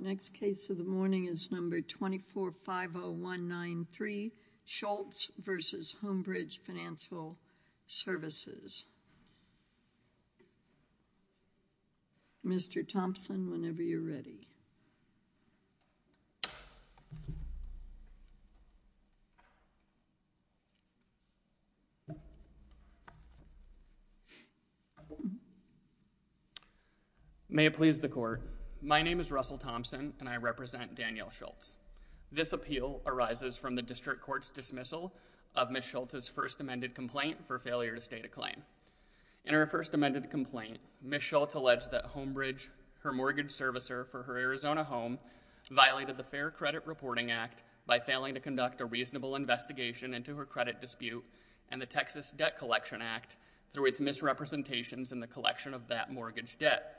Next case is 2450193 Schultz v. HomeBridge Fin Svc Russell Thompson v. Daniel Schultz v. HomeBridge Fin Svc May it please the Court, my name is Russell Thompson and I represent Daniel Schultz. This appeal arises from the District Court's dismissal of Ms. Schultz's first amended complaint for failure to state a claim. In her first amended complaint, Ms. Schultz alleged that HomeBridge, her mortgage servicer for her Arizona home, violated the Fair Credit Reporting Act by failing to conduct a reasonable investigation into her credit dispute and the Texas Debt Collection Act through its misrepresentations in the collection of that mortgage debt.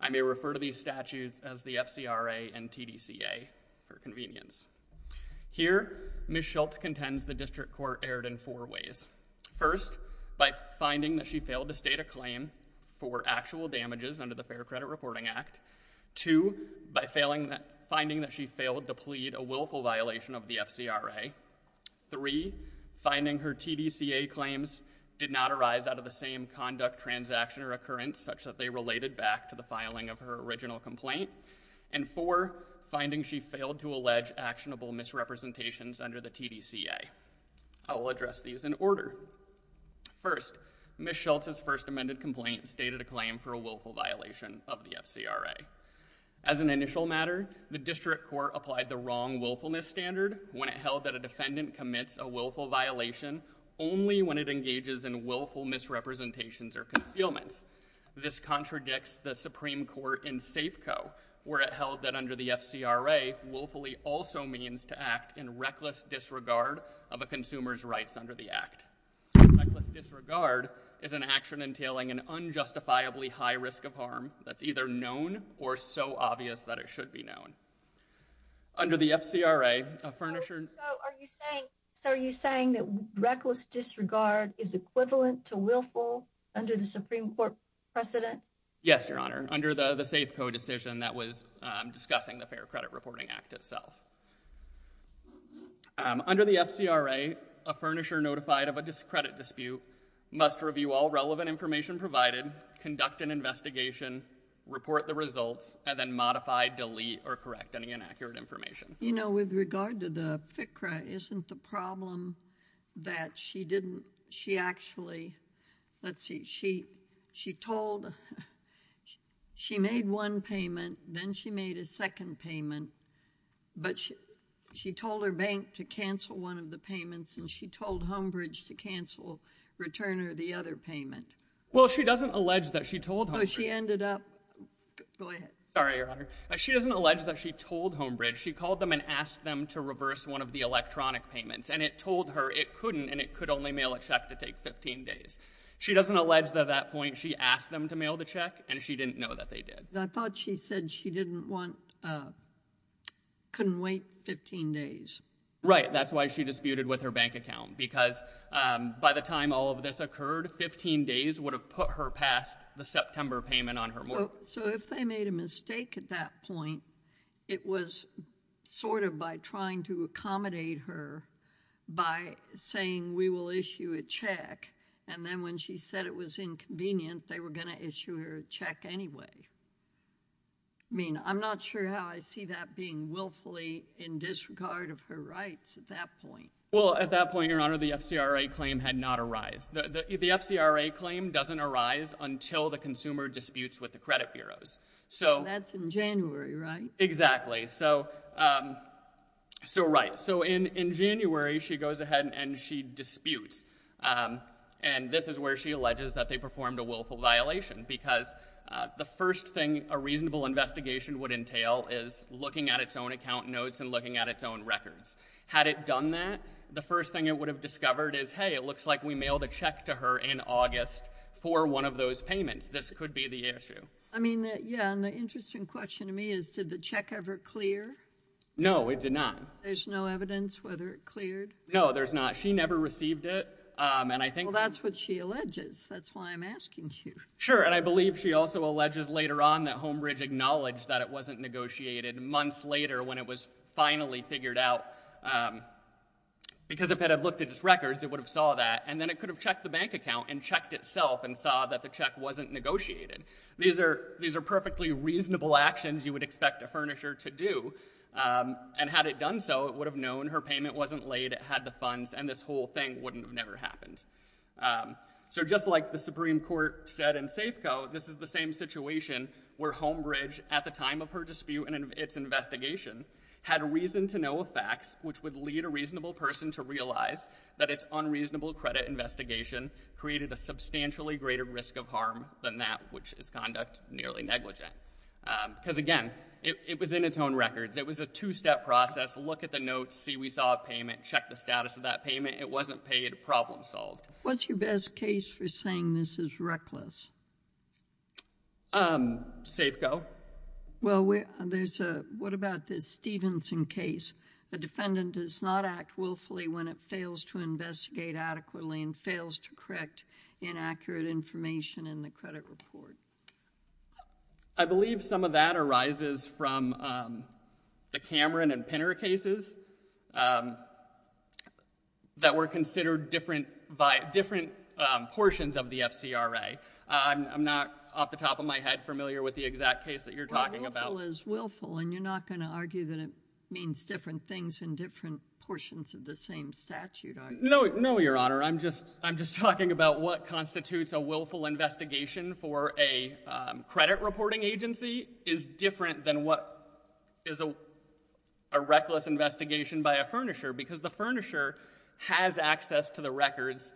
I may refer to these statutes as the FCRA and TDCA for convenience. Here Ms. Schultz contends the District Court erred in four ways. First, by finding that she failed to state a claim for actual damages under the Fair Credit Reporting Act. Two, by finding that she failed to plead a willful violation of the FCRA. Three, finding her TDCA claims did not arise out of the same conduct, transaction, or occurrence such that they related back to the filing of her original complaint. And four, finding she failed to allege actionable misrepresentations under the TDCA. I will address these in order. First, Ms. Schultz's first amended complaint stated a claim for a willful violation of the FCRA. As an initial matter, the District Court applied the wrong willfulness standard when it held that a defendant commits a willful violation only when it engages in willful misrepresentations or concealments. This contradicts the Supreme Court in Safeco, where it held that under the FCRA, willfully also means to act in reckless disregard of a consumer's rights under the Act. Reckless disregard is an action entailing an unjustifiably high risk of harm that's either known or so obvious that it should be known. Under the FCRA, a furnisher's... So, are you saying that reckless disregard is equivalent to willful under the Supreme Court precedent? Yes, Your Honor. Under the Safeco decision that was discussing the Fair Credit Reporting Act itself. Under the FCRA, a furnisher notified of a credit dispute must review all relevant information provided, conduct an investigation, report the results, and then modify, delete, or correct any inaccurate information. You know, with regard to the FCRA, isn't the problem that she didn't... She actually, let's see, she told... She made one payment, then she made a second payment, but she told her bank to cancel one of the payments, and she told Homebridge to cancel, return her the other payment. Well, she doesn't allege that she told Homebridge... She ended up... Go ahead. Sorry, Your Honor. She doesn't allege that she told Homebridge. She called them and asked them to reverse one of the electronic payments, and it told her it couldn't, and it could only mail a check to take 15 days. She doesn't allege that at that point, she asked them to mail the check, and she didn't know that they did. I thought she said she didn't want... Couldn't wait 15 days. Right. That's why she disputed with her bank account, because by the time all of this occurred, 15 days would have put her past the September payment on her mortgage. So if they made a mistake at that point, it was sort of by trying to accommodate her by saying, we will issue a check, and then when she said it was inconvenient, they were going to issue her a check anyway. I mean, I'm not sure how I see that being willfully in disregard of her rights at that point. Well, at that point, Your Honor, the FCRA claim had not arised. The FCRA claim doesn't arise until the consumer disputes with the credit bureaus. So... That's in January, right? Exactly. So right. So in January, she goes ahead and she disputes, and this is where she alleges that they performed a willful violation, because the first thing a reasonable investigation would entail is looking at its own account notes and looking at its own records. Had it done that, the first thing it would have discovered is, hey, it looks like we issued a check to her in August for one of those payments. This could be the issue. I mean, yeah. And the interesting question to me is, did the check ever clear? No, it did not. There's no evidence whether it cleared? No, there's not. She never received it. And I think... Well, that's what she alleges. That's why I'm asking you. Sure. And I believe she also alleges later on that Homebridge acknowledged that it wasn't negotiated months later when it was finally figured out. Because if it had looked at its records, it would have saw that. And then it could have checked the bank account and checked itself and saw that the check wasn't negotiated. These are perfectly reasonable actions you would expect a furnisher to do. And had it done so, it would have known her payment wasn't laid, it had the funds, and this whole thing wouldn't have never happened. So just like the Supreme Court said in Safeco, this is the same situation where Homebridge, at the time of her dispute and its investigation, had reason to know facts which would lead a reasonable person to realize that its unreasonable credit investigation created a substantially greater risk of harm than that which is conduct nearly negligent. Because, again, it was in its own records. It was a two-step process. Look at the notes, see we saw a payment, check the status of that payment. It wasn't paid. Problem solved. What's your best case for saying this is reckless? Safeco. Well, there's a... What about the Stevenson case? The defendant does not act willfully when it fails to investigate adequately and fails to correct inaccurate information in the credit report. I believe some of that arises from the Cameron and Pinter cases that were considered different portions of the FCRA. I'm not, off the top of my head, familiar with the exact case that you're talking about. Willful is willful, and you're not going to argue that it means different things in different portions of the same statute, are you? No, Your Honor. I'm just talking about what constitutes a willful investigation for a credit reporting agency is different than what is a reckless investigation by a furnisher. Because the furnisher has access to the records.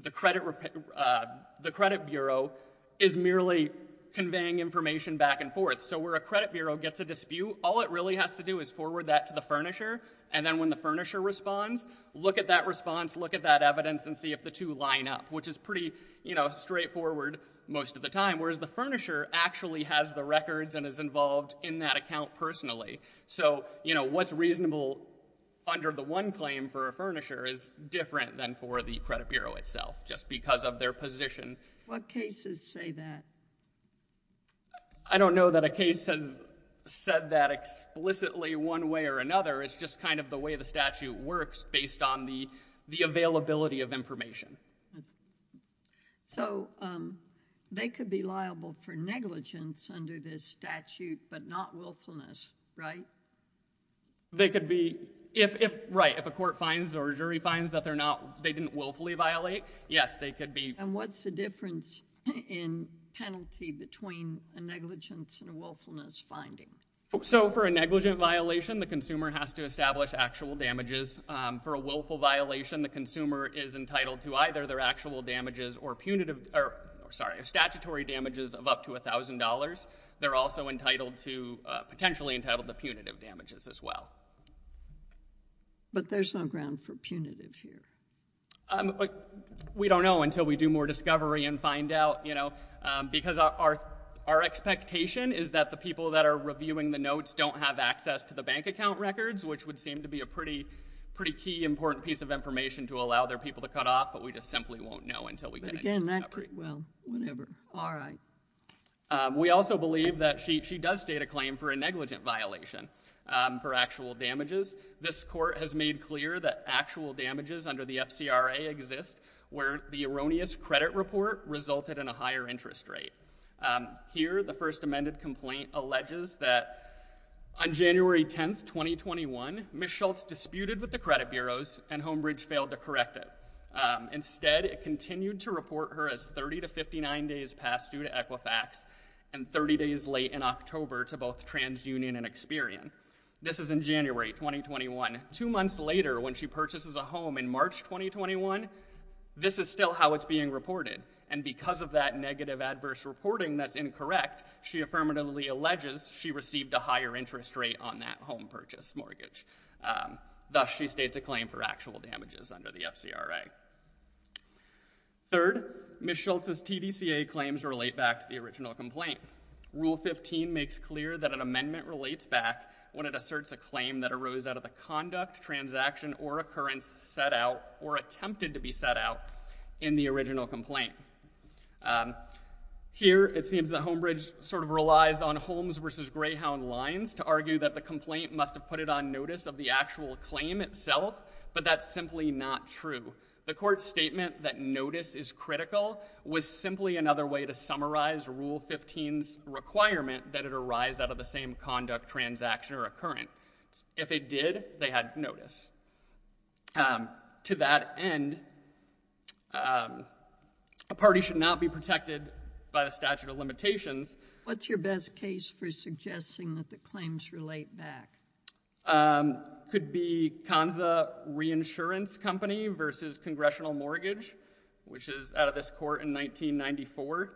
The credit bureau is merely conveying information back and forth. So, where a credit bureau gets a dispute, all it really has to do is forward that to the furnisher, and then when the furnisher responds, look at that response, look at that evidence, and see if the two line up, which is pretty straightforward most of the time, whereas the furnisher actually has the records and is involved in that account personally. So, what's reasonable under the one claim for a furnisher is different than for the credit bureau itself, just because of their position. What cases say that? I don't know that a case has said that explicitly one way or another. It's just kind of the way the statute works, based on the availability of information. So they could be liable for negligence under this statute, but not willfulness, right? They could be. Right. If a court finds or a jury finds that they didn't willfully violate, yes, they could be. And what's the difference in penalty between a negligence and a willfulness finding? So, for a negligent violation, the consumer has to establish actual damages. For a willful violation, the consumer is entitled to either their actual damages or statutory damages of up to $1,000. They're also potentially entitled to punitive damages as well. But there's no ground for punitive here. We don't know until we do more discovery and find out, you know. Because our expectation is that the people that are reviewing the notes don't have access to the bank account records, which would seem to be a pretty key, important piece of information to allow their people to cut off, but we just simply won't know until we get any more Well, whatever. All right. We also believe that she does state a claim for a negligent violation for actual damages. This court has made clear that actual damages under the FCRA exist where the erroneous credit report resulted in a higher interest rate. Here, the first amended complaint alleges that on January 10th, 2021, Ms. Schultz disputed with the credit bureaus and Homebridge failed to correct it. Instead, it continued to report her as 30 to 59 days past due to Equifax and 30 days late in October to both TransUnion and Experian. This is in January 2021. Two months later, when she purchases a home in March 2021, this is still how it's being reported. And because of that negative adverse reporting that's incorrect, she affirmatively alleges she received a higher interest rate on that home purchase mortgage. Thus, she states a claim for actual damages under the FCRA. Third, Ms. Schultz's TDCA claims relate back to the original complaint. Rule 15 makes clear that an amendment relates back when it asserts a claim that arose out of the conduct, transaction, or occurrence set out or attempted to be set out in the original complaint. Here, it seems that Homebridge sort of relies on Holmes v. Greyhound lines to argue that the complaint must have put it on notice of the actual claim itself, but that's simply not true. The court's statement that notice is critical was simply another way to summarize Rule 15's requirement that it arise out of the same conduct, transaction, or occurrence. If it did, they had notice. To that end, a party should not be protected by the statute of limitations. What's your best case for suggesting that the claims relate back? It could be Kansa Reinsurance Company v. Congressional Mortgage, which is out of this court in 1994.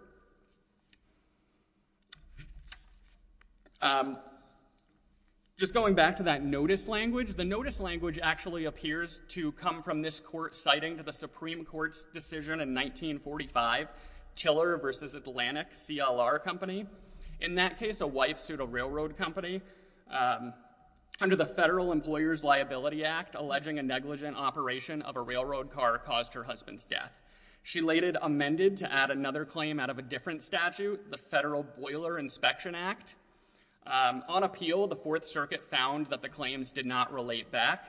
Just going back to that notice language, the notice language actually appears to come from this court's citing to the Supreme Court's decision in 1945, Tiller v. Atlantic CLR Company. In that case, a wife sued a railroad company. Under the Federal Employers Liability Act, alleging a negligent operation of a railroad car caused her husband's death. She later amended to add another claim out of a different statute, the Federal Boiler Inspection Act. On appeal, the Fourth Circuit found that the claims did not relate back.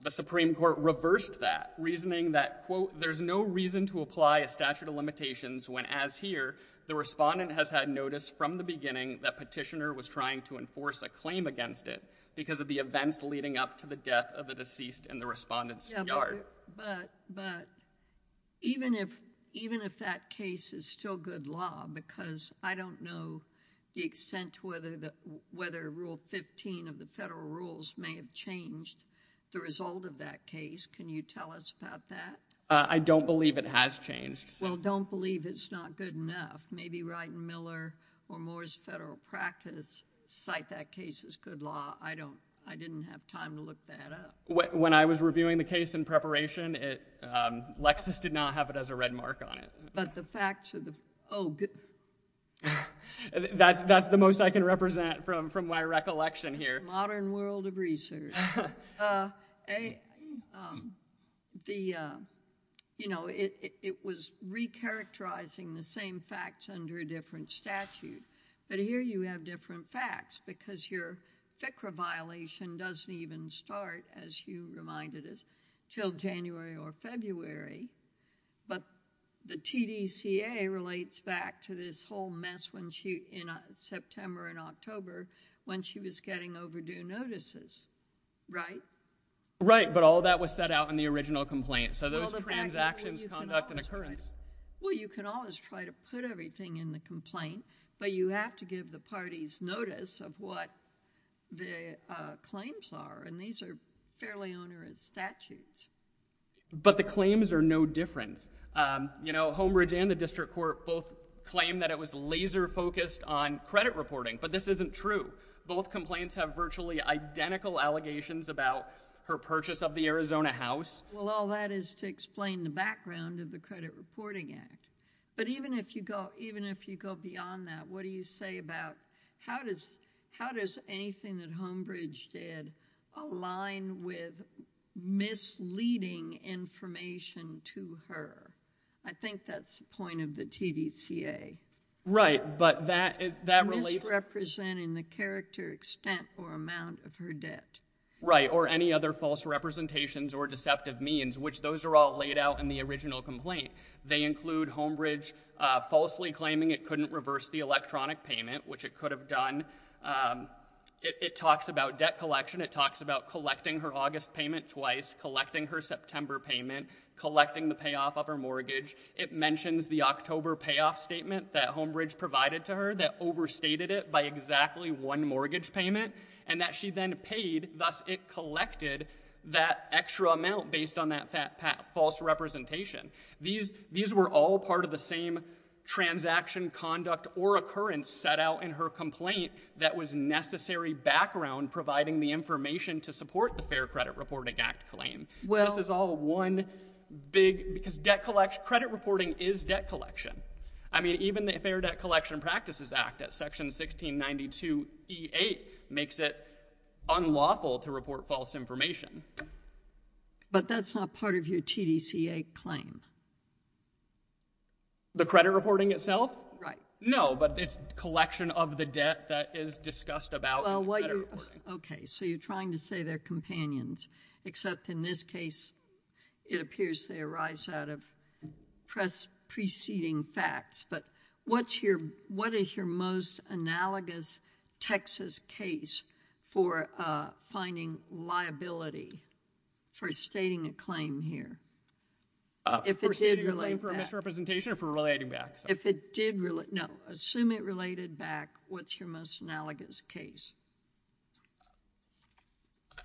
The Supreme Court reversed that, reasoning that, quote, there's no reason to apply a statute of limitations when, as here, the respondent has had notice from the beginning that petitioner was trying to enforce a claim against it because of the events leading up to the death of the deceased in the respondent's yard. But even if that case is still good law, because I don't know the extent to whether Rule 15 of the Federal Rules may have changed the result of that case, can you tell us about that? I don't believe it has changed. Well, don't believe it's not good enough. Maybe Wright and Miller or Moore's Federal Practice cite that case as good law. I don't, I didn't have time to look that up. When I was reviewing the case in preparation, it, um, Lexis did not have it as a red mark on it. But the facts of the, oh, good. That's the most I can represent from my recollection here. Modern world of research. Uh, a, um, the, uh, you know, it, it, it was recharacterizing the same facts under a different statute. But here you have different facts because your FCRA violation doesn't even start, as you reminded us, until January or February. But the TDCA relates back to this whole mess when she, in September and October, when she was getting overdue notices, right? But all that was set out in the original complaint. So those transactions, conduct, and occurrence. Well, you can always try to put everything in the complaint, but you have to give the parties notice of what the, uh, claims are. And these are fairly onerous statutes. But the claims are no different. Um, you know, Homebridge and the District Court both claimed that it was laser focused on credit reporting. But this isn't true. Both complaints have virtually identical allegations about her purchase of the Arizona house. Well, all that is to explain the background of the Credit Reporting Act. But even if you go, even if you go beyond that, what do you say about how does, how does anything that Homebridge did align with misleading information to her? I think that's the point of the TDCA. Right. But that is, that relieves. Misrepresenting the character, extent, or amount of her debt. Right. Or any other false representations or deceptive means, which those are all laid out in the original complaint. They include Homebridge, uh, falsely claiming it couldn't reverse the electronic payment, which it could have done. Um, it, it talks about debt collection. It talks about collecting her August payment twice, collecting her September payment, collecting the payoff of her mortgage. It mentions the October payoff statement that Homebridge provided to her that overstated it by exactly one mortgage payment and that she then paid, thus it collected that extra amount based on that fact, that false representation, these, these were all part of the same transaction conduct or occurrence set out in her complaint that was necessary background providing the information to support the Fair Credit Reporting Act claim. Well. This is all one big, because debt collection, credit reporting is debt collection. I mean, even the Fair Debt Collection Practices Act at section 1692E8 makes it unlawful to report false information. But that's not part of your TDCA claim. The credit reporting itself? Right. No, but it's collection of the debt that is discussed about in the credit reporting. So what you're, okay, so you're trying to say they're companions, except in this case, it appears they arise out of preceding facts, but what's your, what is your most analogous Texas case for, uh, finding liability for stating a claim here? If it did relate back. For stating a claim for misrepresentation or for relating back? If it did relate, no, assume it related back, what's your most analogous case?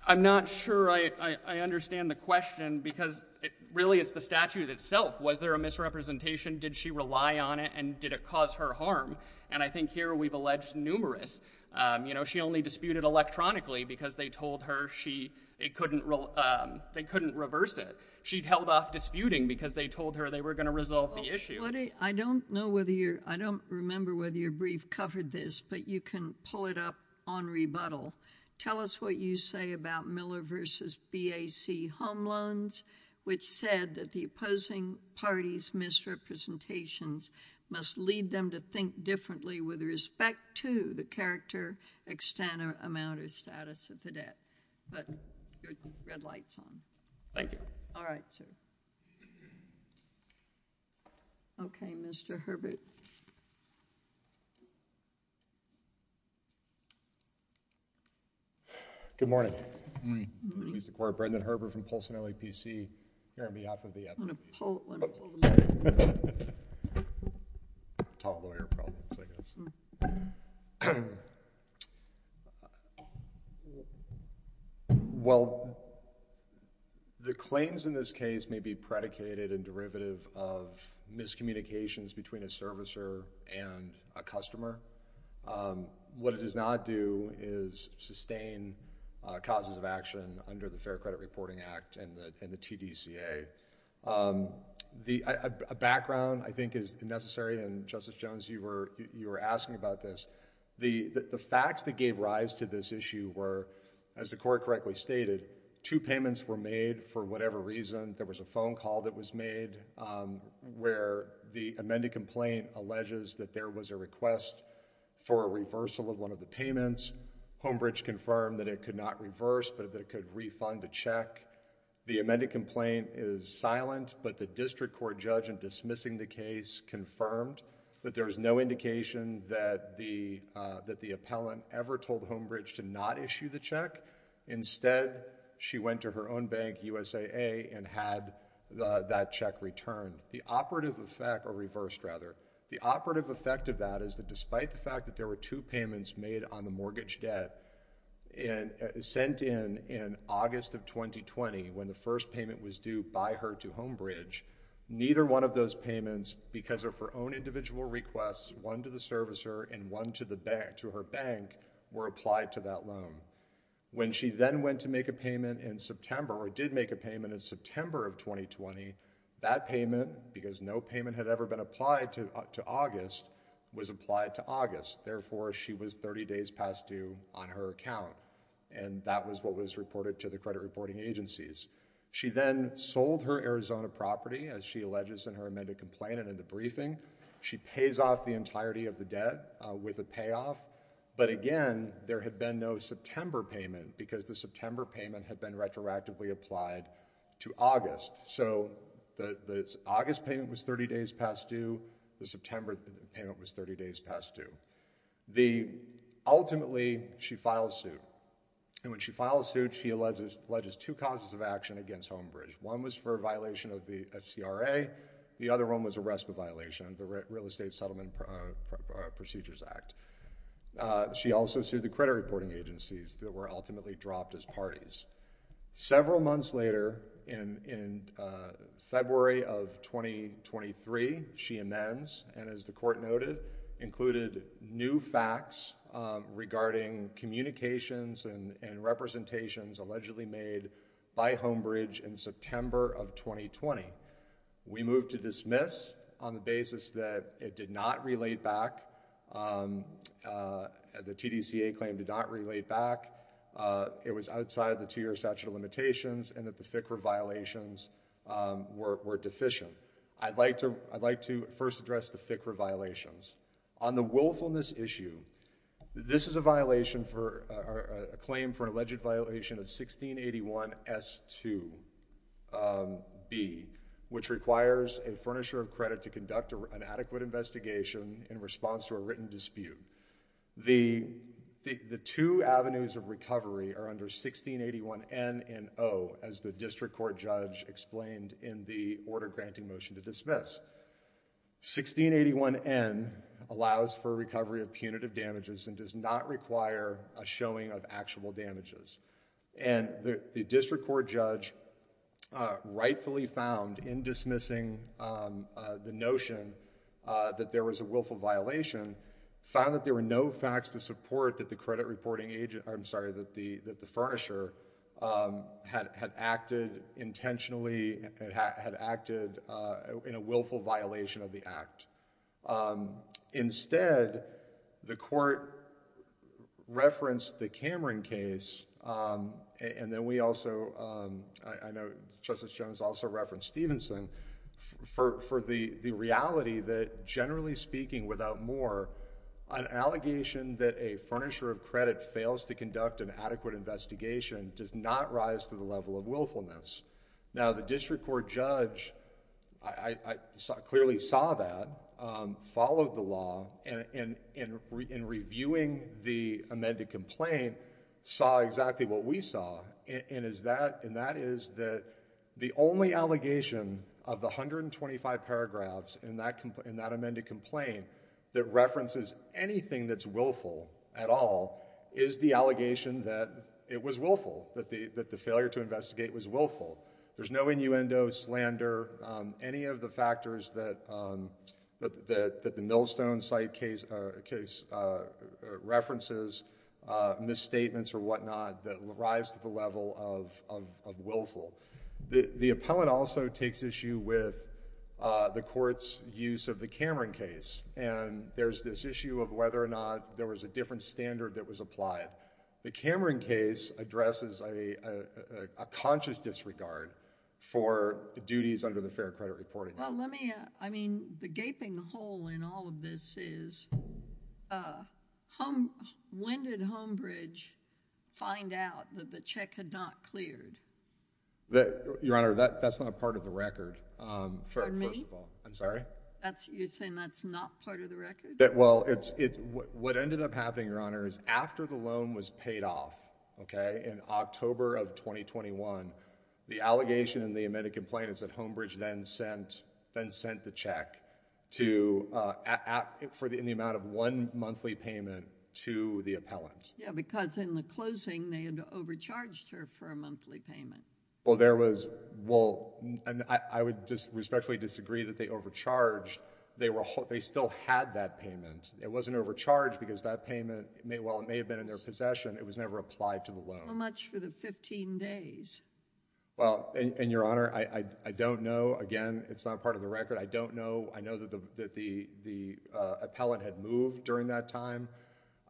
I'm not sure I, I understand the question because it really is the statute itself. Was there a misrepresentation? Did she rely on it and did it cause her harm? And I think here we've alleged numerous, um, you know, she only disputed electronically because they told her she, it couldn't, um, they couldn't reverse it. She'd held off disputing because they told her they were going to resolve the issue. I don't know whether you're, I don't remember whether your brief covered this, but you can pull it up on rebuttal. Tell us what you say about Miller v. BAC home loans, which said that the opposing party's misrepresentations must lead them to think differently with respect to the character, extent, or amount, or status of the debt, but your red light's on. Thank you. All right, sir. Okay. Mr. Herbert. Good morning. Release the court. Brendan Herbert from Polson LAPC, here on behalf of the FBI. I'm going to pull, I'm going to pull this up. Tall lawyer problems, I guess. Well, the claims in this case may be predicated and derivative of miscommunications between a servicer and a customer. What it does not do is sustain causes of action under the Fair Credit Reporting Act and the TDCA. A background, I think, is necessary, and Justice Jones, you were asking about this. The facts that gave rise to this issue were, as the court correctly stated, two payments were made for whatever reason. There was a phone call that was made where the amended complaint alleges that there was a request for a reversal of one of the payments. Homebridge confirmed that it could not reverse, but that it could refund the check. The amended complaint is silent, but the district court judge in dismissing the case confirmed that there was no indication that the, uh, that the appellant ever told Homebridge to not issue the check. Instead, she went to her own bank, USAA, and had, uh, that check returned. The operative effect, or reversed, rather, the operative effect of that is that despite the fact that there were two payments made on the mortgage debt, and, uh, sent in in August of 2020 when the first payment was due by her to Homebridge, neither one of those payments, because of her own individual requests, one to the servicer and one to the bank, to her bank, were applied to that loan. When she then went to make a payment in September, or did make a payment in September of 2020, that payment, because no payment had ever been applied to, uh, to August, was applied to August. Therefore, she was 30 days past due on her account, and that was what was reported to the credit reporting agencies. She then sold her Arizona property, as she alleges in her amended complaint and in the briefing. She pays off the entirety of the debt, uh, with a payoff, but again, there had been no September payment, because the September payment had been retroactively applied to August. So the, the August payment was 30 days past due, the September payment was 30 days past due. The, ultimately, she files suit, and when she files suit, she alleges, alleges two causes of action against Homebridge. One was for a violation of the FCRA, the other one was arrest for violation of the Real Estate Settlement Procedures Act. Uh, she also sued the credit reporting agencies that were ultimately dropped as parties. Several months later, in, in, uh, February of 2023, she amends, and as the court noted, included new facts, um, regarding communications and, and representations allegedly made by Homebridge in September of 2020. We move to dismiss on the basis that it did not relate back, um, uh, the TDCA claim did not relate back, uh, it was outside the two-year statute of limitations, and that the FCRA violations, um, were, were deficient. I'd like to, I'd like to first address the FCRA violations. On the willfulness issue, this is a violation for, uh, a claim for an alleged violation of 1681S2, um, B, which requires a furnisher of credit to conduct a, an adequate investigation in response to a written dispute. The, the, the two avenues of recovery are under 1681N and O, as the district court judge explained in the order granting motion to dismiss. 1681N allows for recovery of punitive damages and does not require a showing of actual damages. And the, the district court judge, uh, rightfully found in dismissing, um, uh, the notion, uh, that there was a willful violation, found that there were no facts to support that the credit reporting agent, I'm sorry, that the, that the furnisher, um, had, had acted intentionally, had, had acted, uh, in a willful violation of the act. Um, instead, the court referenced the Cameron case, um, and then we also, um, I, I know Justice Jones also referenced Stevenson for, for the, the reality that generally speaking without more, an allegation that a furnisher of credit fails to conduct an adequate investigation does not rise to the level of willfulness. Now, the district court judge, I, I, I clearly saw that, um, followed the law and, and, and reviewing the amended complaint, saw exactly what we saw and is that, and that is that the only allegation of the 125 paragraphs in that, in that amended complaint that references anything that's willful at all is the allegation that it was willful, that the, that the failure to investigate was willful. There's no innuendo, slander, um, any of the factors that, um, that, that, that the Millstone site case, uh, case, uh, references, uh, misstatements or whatnot that rise to the level of, of, of willful. The, the appellant also takes issue with, uh, the court's use of the Cameron case and there's this issue of whether or not there was a different standard that was applied. The Cameron case addresses a, a, a, a conscious disregard for the duties under the Fair Credit Reporting Act. Well, let me, uh, I mean, the gaping hole in all of this is, uh, home, when did Homebridge find out that the check had not cleared? That, Your Honor, that, that's not part of the record, um, for, first of all. For me? I'm sorry? That's, you're saying that's not part of the record? That, well, it's, it's, what, what ended up happening, Your Honor, is after the loan was paid off, okay, in October of 2021, the allegation in the amended complaint is that Homebridge then sent, then sent the check to, uh, at, at, for the, in the amount of one monthly payment to the appellant. Yeah, because in the closing, they had overcharged her for a monthly payment. Well, there was, well, and I, I would just respectfully disagree that they overcharged. They were, they still had that payment. It wasn't overcharged because that payment may, while it may have been in their possession, it was never applied to the loan. How much for the 15 days? Well, and, and, Your Honor, I, I, I don't know, again, it's not part of the record, I don't know, I know that the, that the, the, uh, appellant had moved during that time.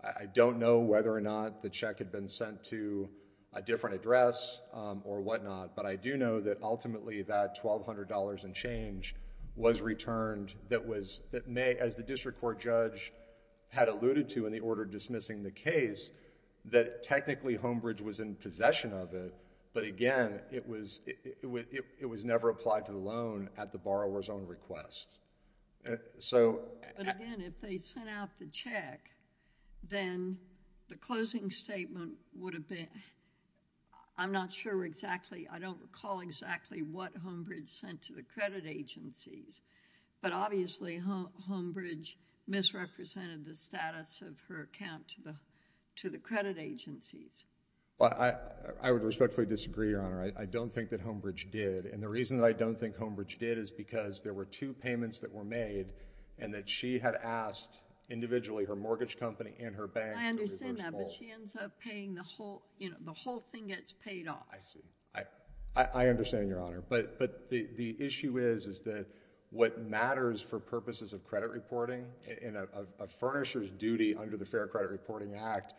I don't know whether or not the check had been sent to a different address, um, or whatnot, but I do know that ultimately that $1,200 and change was returned that was, that may, as the district court judge had alluded to in the order dismissing the case, that technically Homebridge was in possession of it, but again, it was, it, it, it, it was never applied to the loan at the borrower's own request, so... But again, if they sent out the check, then the closing statement would have been, I'm not sure exactly, I don't recall exactly what Homebridge sent to the credit agencies, but obviously Homebridge misrepresented the status of her account to the, to the credit agencies. Well, I, I, I would respectfully disagree, Your Honor, I, I don't think that Homebridge did, and the reason that I don't think Homebridge did is because there were two payments that were made, and that she had asked individually her mortgage company and her bank to reverse all... I see. I, I understand, Your Honor, but, but the, the issue is, is that what matters for purposes of credit reporting in a, a, a furnisher's duty under the Fair Credit Reporting Act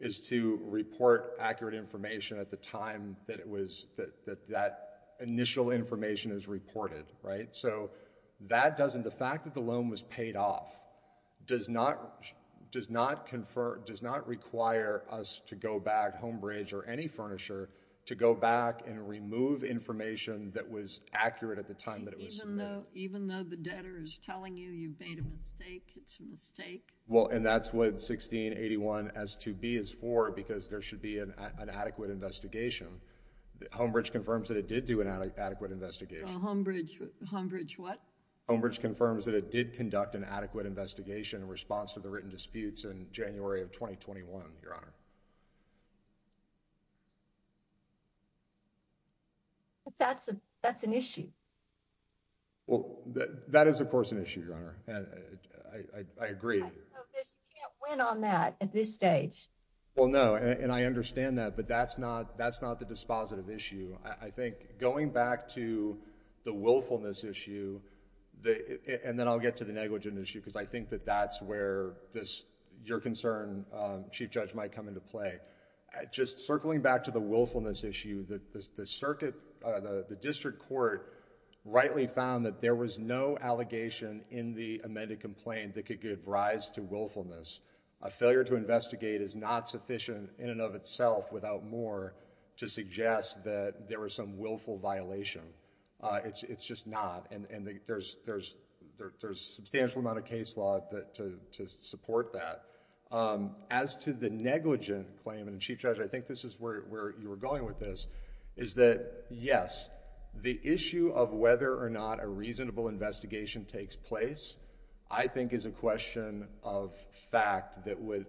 is to report accurate information at the time that it was, that, that, that initial information is reported, right? So that doesn't, the fact that the loan was paid off does not, does not confer, does not require us to go back, Homebridge or any furnisher, to go back and remove information that was accurate at the time that it was submitted. Even though, even though the debtor is telling you you've made a mistake, it's a mistake? Well, and that's what 1681 S2B is for, because there should be an, an adequate investigation. Homebridge confirms that it did do an adequate investigation. Well, Homebridge, Homebridge what? Homebridge confirms that it did conduct an adequate investigation in response to the negligent disputes in January of 2021, Your Honor. That's a, that's an issue. Well, that, that is of course an issue, Your Honor, and I, I, I agree. You can't win on that at this stage. Well, no, and I understand that, but that's not, that's not the dispositive issue. I think going back to the willfulness issue, the, and then I'll get to the negligent issue, because I think that that's where this, your concern, Chief Judge, might come into play. Just circling back to the willfulness issue, the, the, the circuit, the, the district court rightly found that there was no allegation in the amended complaint that could give rise to willfulness. A failure to investigate is not sufficient in and of itself without more to suggest that there was some willful violation. It's, it's just not, and, and there's, there's, there's, there's a substantial amount of case law that, to, to support that. As to the negligent claim, and Chief Judge, I think this is where, where you were going with this, is that yes, the issue of whether or not a reasonable investigation takes place, I think is a question of fact that would,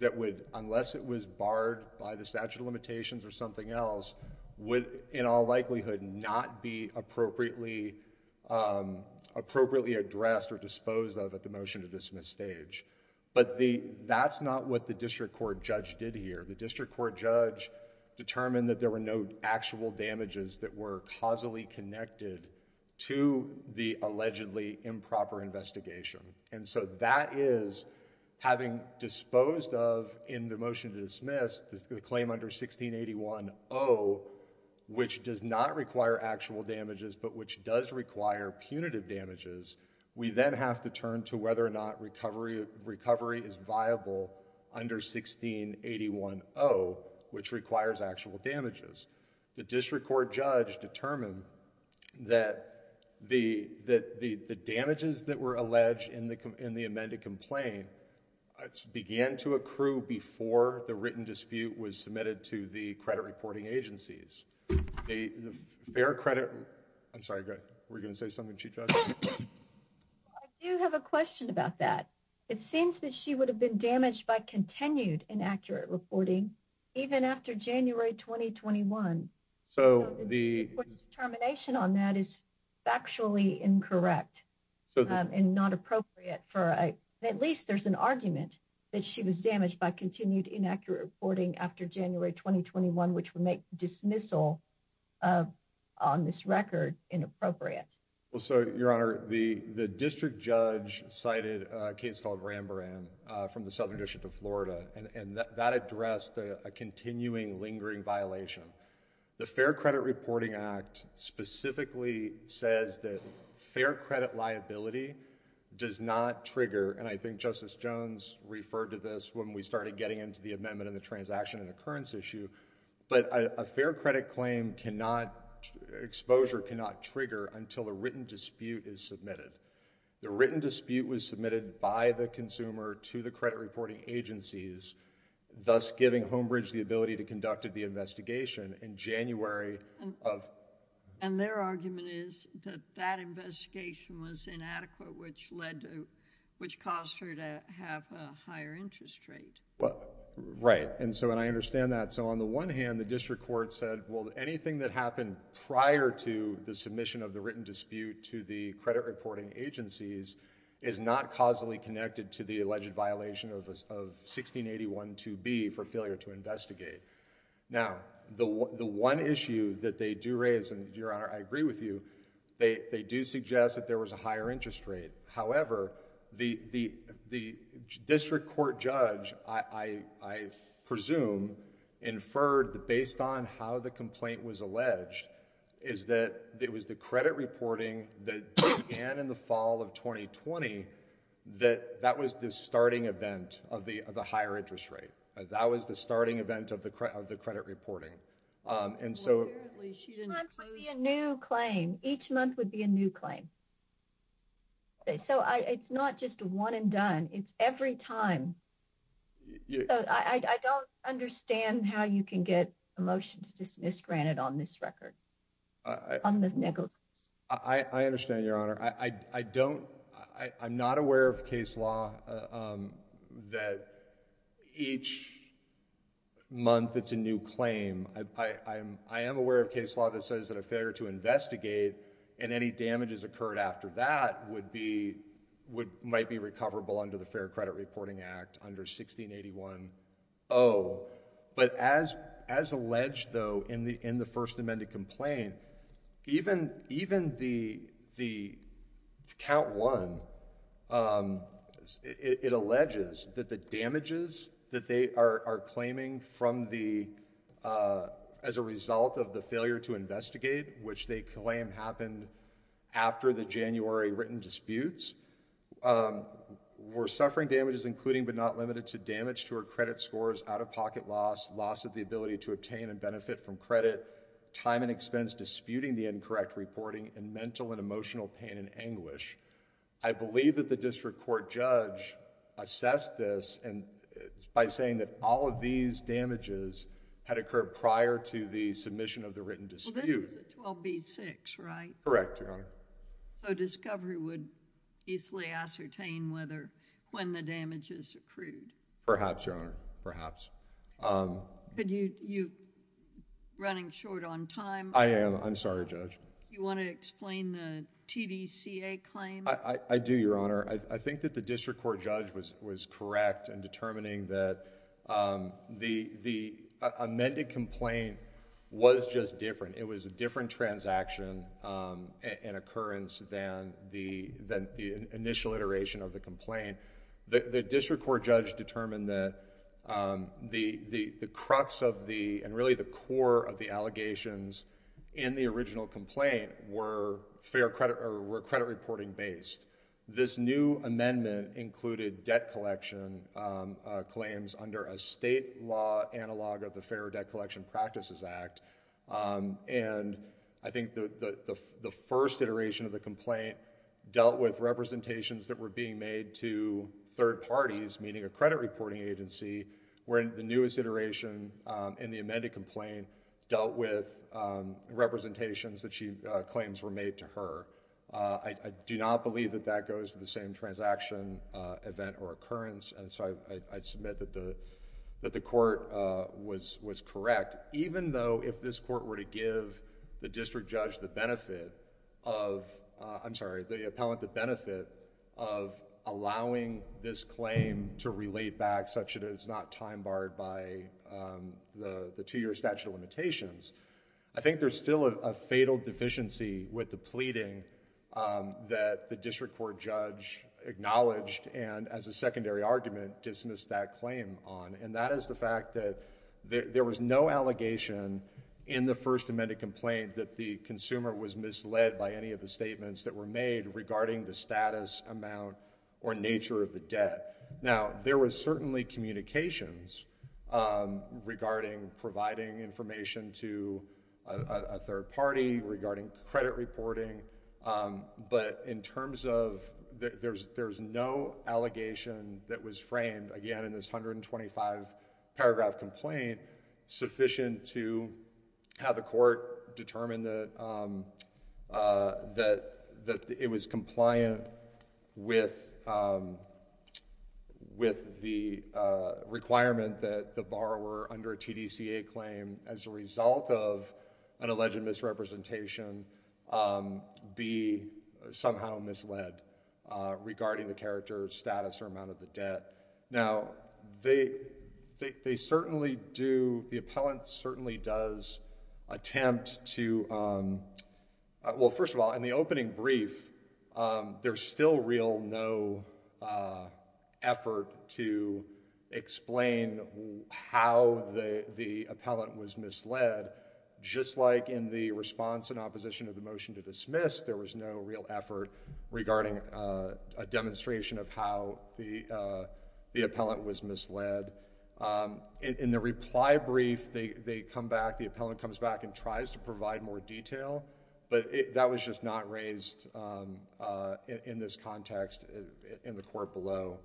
that would, unless it was barred by the statute of limitations or something else, would in all likelihood not be appropriately, um, appropriately addressed or disposed of at the motion to dismiss stage. But the, that's not what the district court judge did here. The district court judge determined that there were no actual damages that were causally connected to the allegedly improper investigation. And so that is, having disposed of in the motion to dismiss, the claim under 1681-0, which does not require actual damages, but which does require punitive damages, we then have to turn to whether or not recovery, recovery is viable under 1681-0, which requires actual damages. The district court judge determined that the, that the, the damages that were alleged in the, in the amended complaint began to accrue before the written dispute was submitted to the credit reporting agencies. The, the fair credit, I'm sorry, go ahead, were you going to say something, Chief Judge? I do have a question about that. It seems that she would have been damaged by continued inaccurate reporting, even after January 2021. So the termination on that is factually incorrect and not appropriate for, at least there's an argument that she was damaged by continued inaccurate reporting after January 2021, which would make dismissal on this record inappropriate. Well, so your honor, the, the district judge cited a case called Rambrand from the Southern violation. The Fair Credit Reporting Act specifically says that fair credit liability does not trigger, and I think Justice Jones referred to this when we started getting into the amendment and the transaction and occurrence issue, but a fair credit claim cannot, exposure cannot trigger until a written dispute is submitted. The written dispute was submitted by the consumer to the credit reporting agencies, thus giving Homebridge the ability to conduct the investigation in January of... And their argument is that that investigation was inadequate, which led to, which caused her to have a higher interest rate. Right. And so, and I understand that. So on the one hand, the district court said, well, anything that happened prior to the submission of the written dispute to the credit reporting agencies is not causally connected to the alleged violation of 1681 2B for failure to investigate. Now, the one issue that they do raise, and your honor, I agree with you, they, they do suggest that there was a higher interest rate. However, the, the, the district court judge, I, I presume, inferred that based on how the complaint was alleged is that it was the credit reporting that began in the fall of 2020 that that was the starting event of the, of the higher interest rate. That was the starting event of the credit, of the credit reporting. And so... Apparently she didn't... Each month would be a new claim. Each month would be a new claim. So I, it's not just a one and done, it's every time. I don't understand how you can get a motion to dismiss granted on this record, on the negligence. I understand, your honor. I, I, I don't, I, I'm not aware of case law, um, that each month it's a new claim. I, I, I'm, I am aware of case law that says that a failure to investigate and any damages occurred after that would be, would, might be recoverable under the Fair Credit Reporting Act under 1681 0. But as, as alleged though, in the, in the first amended complaint, even, even the, the count one, um, it, it alleges that the damages that they are claiming from the, uh, as a result of the failure to investigate, which they claim happened after the January written disputes, um, were suffering damages including but not limited to damage to her credit scores out-of-pocket loss, loss of the ability to obtain and benefit from credit, time and expense disputing the incorrect reporting, and mental and emotional pain and anguish. I believe that the district court judge assessed this and, by saying that all of these damages had occurred prior to the submission of the written dispute... Well, this is a 12B-6, right? Correct, your honor. So discovery would easily ascertain whether, when the damages accrued? Perhaps, your honor, perhaps. Um... But you, you, running short on time... I am. I'm sorry, Judge. You want to explain the TVCA claim? I, I do, your honor. I think that the district court judge was, was correct in determining that, um, the, the amended complaint was just different. It was a different transaction, um, and occurrence than the, than the initial iteration of the complaint. The, the district court judge determined that, um, the, the, the crux of the, and really the core of the allegations in the original complaint were fair credit, or were credit reporting based. This new amendment included debt collection, um, uh, claims under a state law analog of the Fair Debt Collection Practices Act, um, and I think the, the, the first iteration of the complaint dealt with representations that were being made to third parties, meaning a credit reporting agency, wherein the newest iteration, um, in the amended complaint dealt with, um, representations that she, uh, claims were made to her. Uh, I, I do not believe that that goes to the same transaction, uh, event or occurrence, and so I, I, I submit that the, that the court, uh, was, was correct. Even though if this court were to give the district judge the benefit of, uh, I'm sorry, the appellant the benefit of allowing this claim to relate back such that it is not time barred by, um, the, the two-year statute of limitations, I think there's still a, a fatal deficiency with the pleading, um, that the district court judge acknowledged and as a secondary argument dismissed that claim on, and that is the fact that there, there was no allegation in the first amended complaint that the consumer was misled by any of the statements that were made regarding the status, amount, or nature of the debt. Now there was certainly communications, um, regarding providing information to a, a, a third party regarding credit reporting, um, but in terms of the, there's, there's no allegation that was framed, again, in this 125-paragraph complaint sufficient to have the court determine that, um, uh, that, that it was compliant with, um, with the, uh, requirement that the borrower under a TDCA claim as a result of an alleged misrepresentation, um, be somehow misled, uh, regarding the character, status, or amount of the debt. Now they, they, they certainly do, the appellant certainly does attempt to, um, uh, well, first of all, in the opening brief, um, there's still real no, uh, effort to explain how the, the appellant was misled, just like in the response and opposition of the motion to dismiss, there was no real effort regarding, uh, a demonstration of how the, uh, the appellant was misled. Um, in, in the reply brief, they, they come back, the appellant comes back and tries to provide more detail, but it, that was just not raised, um, uh, in, in this context in the court below.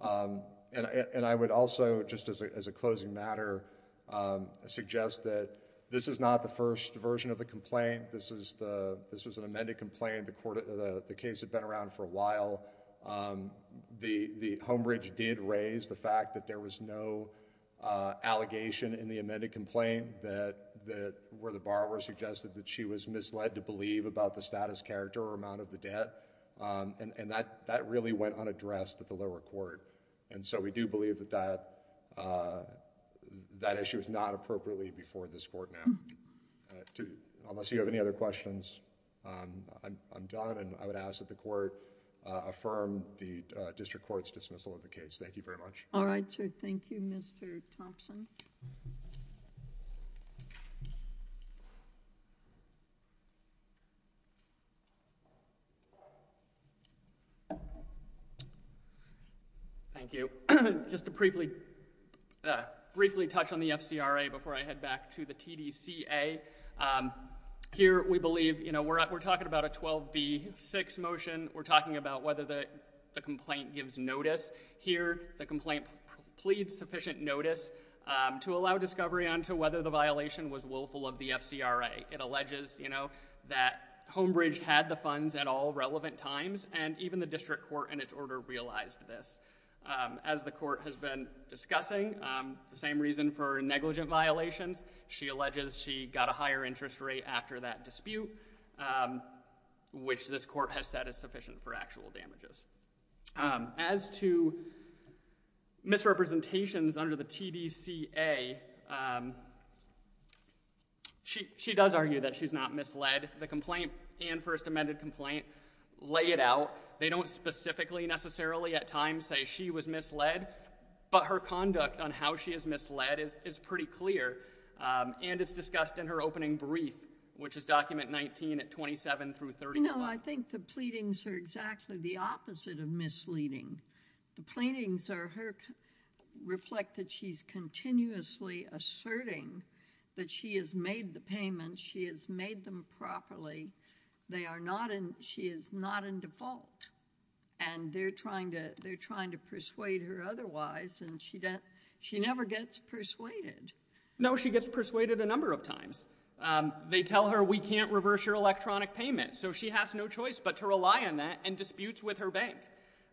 Um, and I, and I would also just as a, as a closing matter, um, suggest that this is not the first version of the complaint, this is the, this was an amended complaint, the court, the case had been around for a while, um, the, the Homebridge did raise the fact that there was no, uh, allegation in the amended complaint that, that where the borrower suggested that she was misled to believe about the status, character, or amount of the debt, um, and, and that, that really went unaddressed at the lower court. And so, we do believe that that, uh, that issue is not appropriately before this court now. Uh, to, unless you have any other questions, um, I'm, I'm done and I would ask that the court, uh, affirm the, uh, district court's dismissal of the case. Thank you very much. All right, sir. Thank you, Mr. Thompson. Thank you. Just to briefly, uh, briefly touch on the FCRA before I head back to the TDCA. Um, here, we believe, you know, we're, we're talking about a 12B6 motion, we're talking about whether the, the complaint gives notice. Here, the complaint pleads sufficient notice, um, to allow discovery onto whether the violation was willful of the FCRA. It alleges, you know, that Homebridge had the funds at all relevant times and even the district court in its order realized this. Um, as the court has been discussing, um, the same reason for negligent violations, she alleges she got a higher interest rate after that dispute, um, which this court has said is sufficient for actual damages. Um, as to misrepresentations under the TDCA, um, she does argue that she's not misled. The complaint and first amended complaint lay it out. They don't specifically necessarily at times say she was misled, but her conduct on how she is misled is, is pretty clear. Um, and it's discussed in her opening brief, which is document 19 at 27 through 30. No, I think the pleadings are exactly the opposite of misleading. The pleadings are her, reflect that she's continuously asserting that she has made the payment. She has made them properly. They are not in, she is not in default and they're trying to, they're trying to persuade her otherwise and she doesn't, she never gets persuaded. No, she gets persuaded a number of times. Um, they tell her we can't reverse your electronic payment. So she has no choice but to rely on that and disputes with her bank.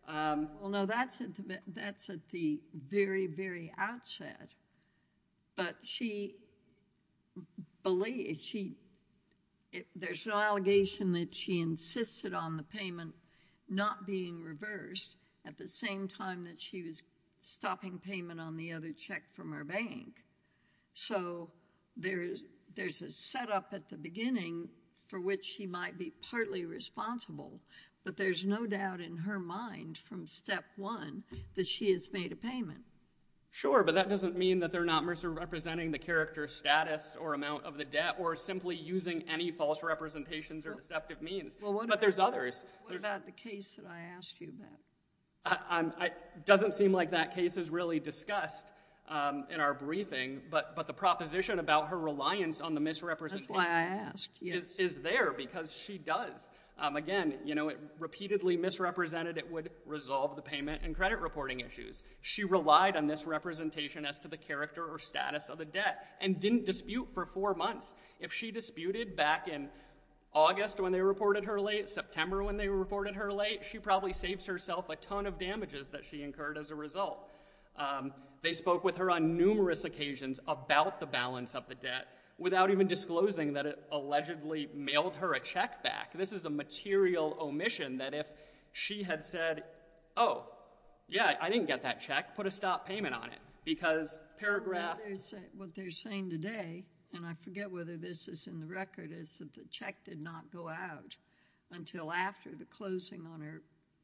Um, well, no, that's it. That's at the very, very outset. But she believe she, there's an allegation that she insisted on the payment not being reversed at the same time that she was stopping payment on the other check from her bank. So there's, there's a setup at the beginning for which he might be partly responsible, but there's no doubt in her mind from step one that she has made a payment. Sure. But that doesn't mean that they're not mercer representing the character status or amount of the debt or simply using any false representations or deceptive means, but there's others. What about the case that I asked you about? Um, doesn't seem like that case is really discussed, um, in our briefing, but, but the proposition about her reliance on the misrepresentation is there because she does, um, again, you know, it repeatedly misrepresented, it would resolve the payment and credit reporting issues. She relied on this representation as to the character or status of the debt and didn't dispute for four months. If she disputed back in August when they reported her late September, when they reported her late, she probably saves herself a ton of damages that she incurred as a result. Um, they spoke with her on numerous occasions about the balance of the debt without even disclosing that it allegedly mailed her a check back. This is a material omission that if she had said, Oh yeah, I didn't get that check, put a stop payment on it because paragraph what they're saying today, and I forget whether this is in the record is that the check did not go out until after the closing on her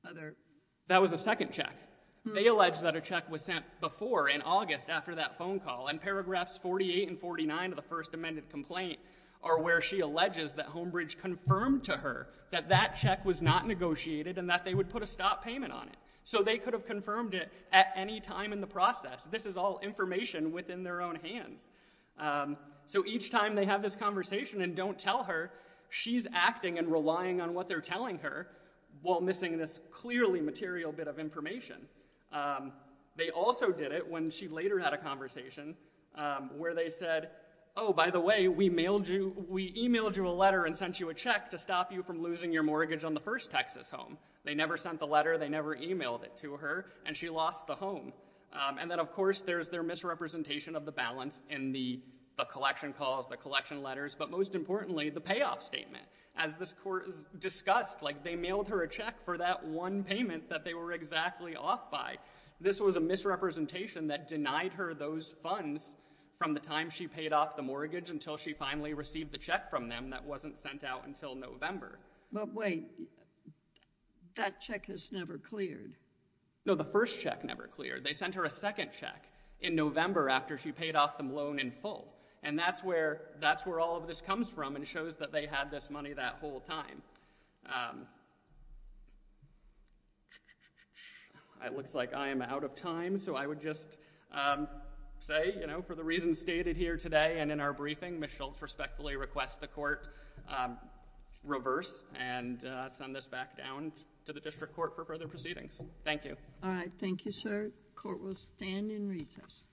other. That was the second check. They allege that a check was sent before in August after that phone call and paragraphs 48 and 49 of the first amended complaint are where she alleges that home bridge confirmed to her that that check was not negotiated and that they would put a stop payment on it. So they could have confirmed it at any time in the process. This is all information within their own hands. Um, so each time they have this conversation and don't tell her she's acting and relying on what they're telling her while missing this clearly material bit of information. Um, they also did it when she later had a conversation, um, where they said, Oh, by the way, we mailed you, we emailed you a letter and sent you a check to stop you from losing your mortgage on the first Texas home. They never sent the letter. They never emailed it to her and she lost the home. Um, and then of course there's their misrepresentation of the balance in the collection calls, the collection letters, but most importantly, the payoff statement as this court is discussed, like they mailed her a check for that one payment that they were exactly off by. This was a misrepresentation that denied her those funds from the time she paid off the mortgage until she finally received the check from them that wasn't sent out until November. But wait, that check has never cleared. No, the first check never cleared. They sent her a second check in November after she paid off the loan in full. And that's where, that's where all of this comes from and shows that they had this money that whole time. Um, it looks like I am out of time. So I would just, um, say, you know, for the reasons stated here today and in our briefing, Ms. Schultz respectfully request the court, um, reverse and, uh, send this back down to the district court for further proceedings. Thank you. All right. Thank you, sir. Court will stand in recess.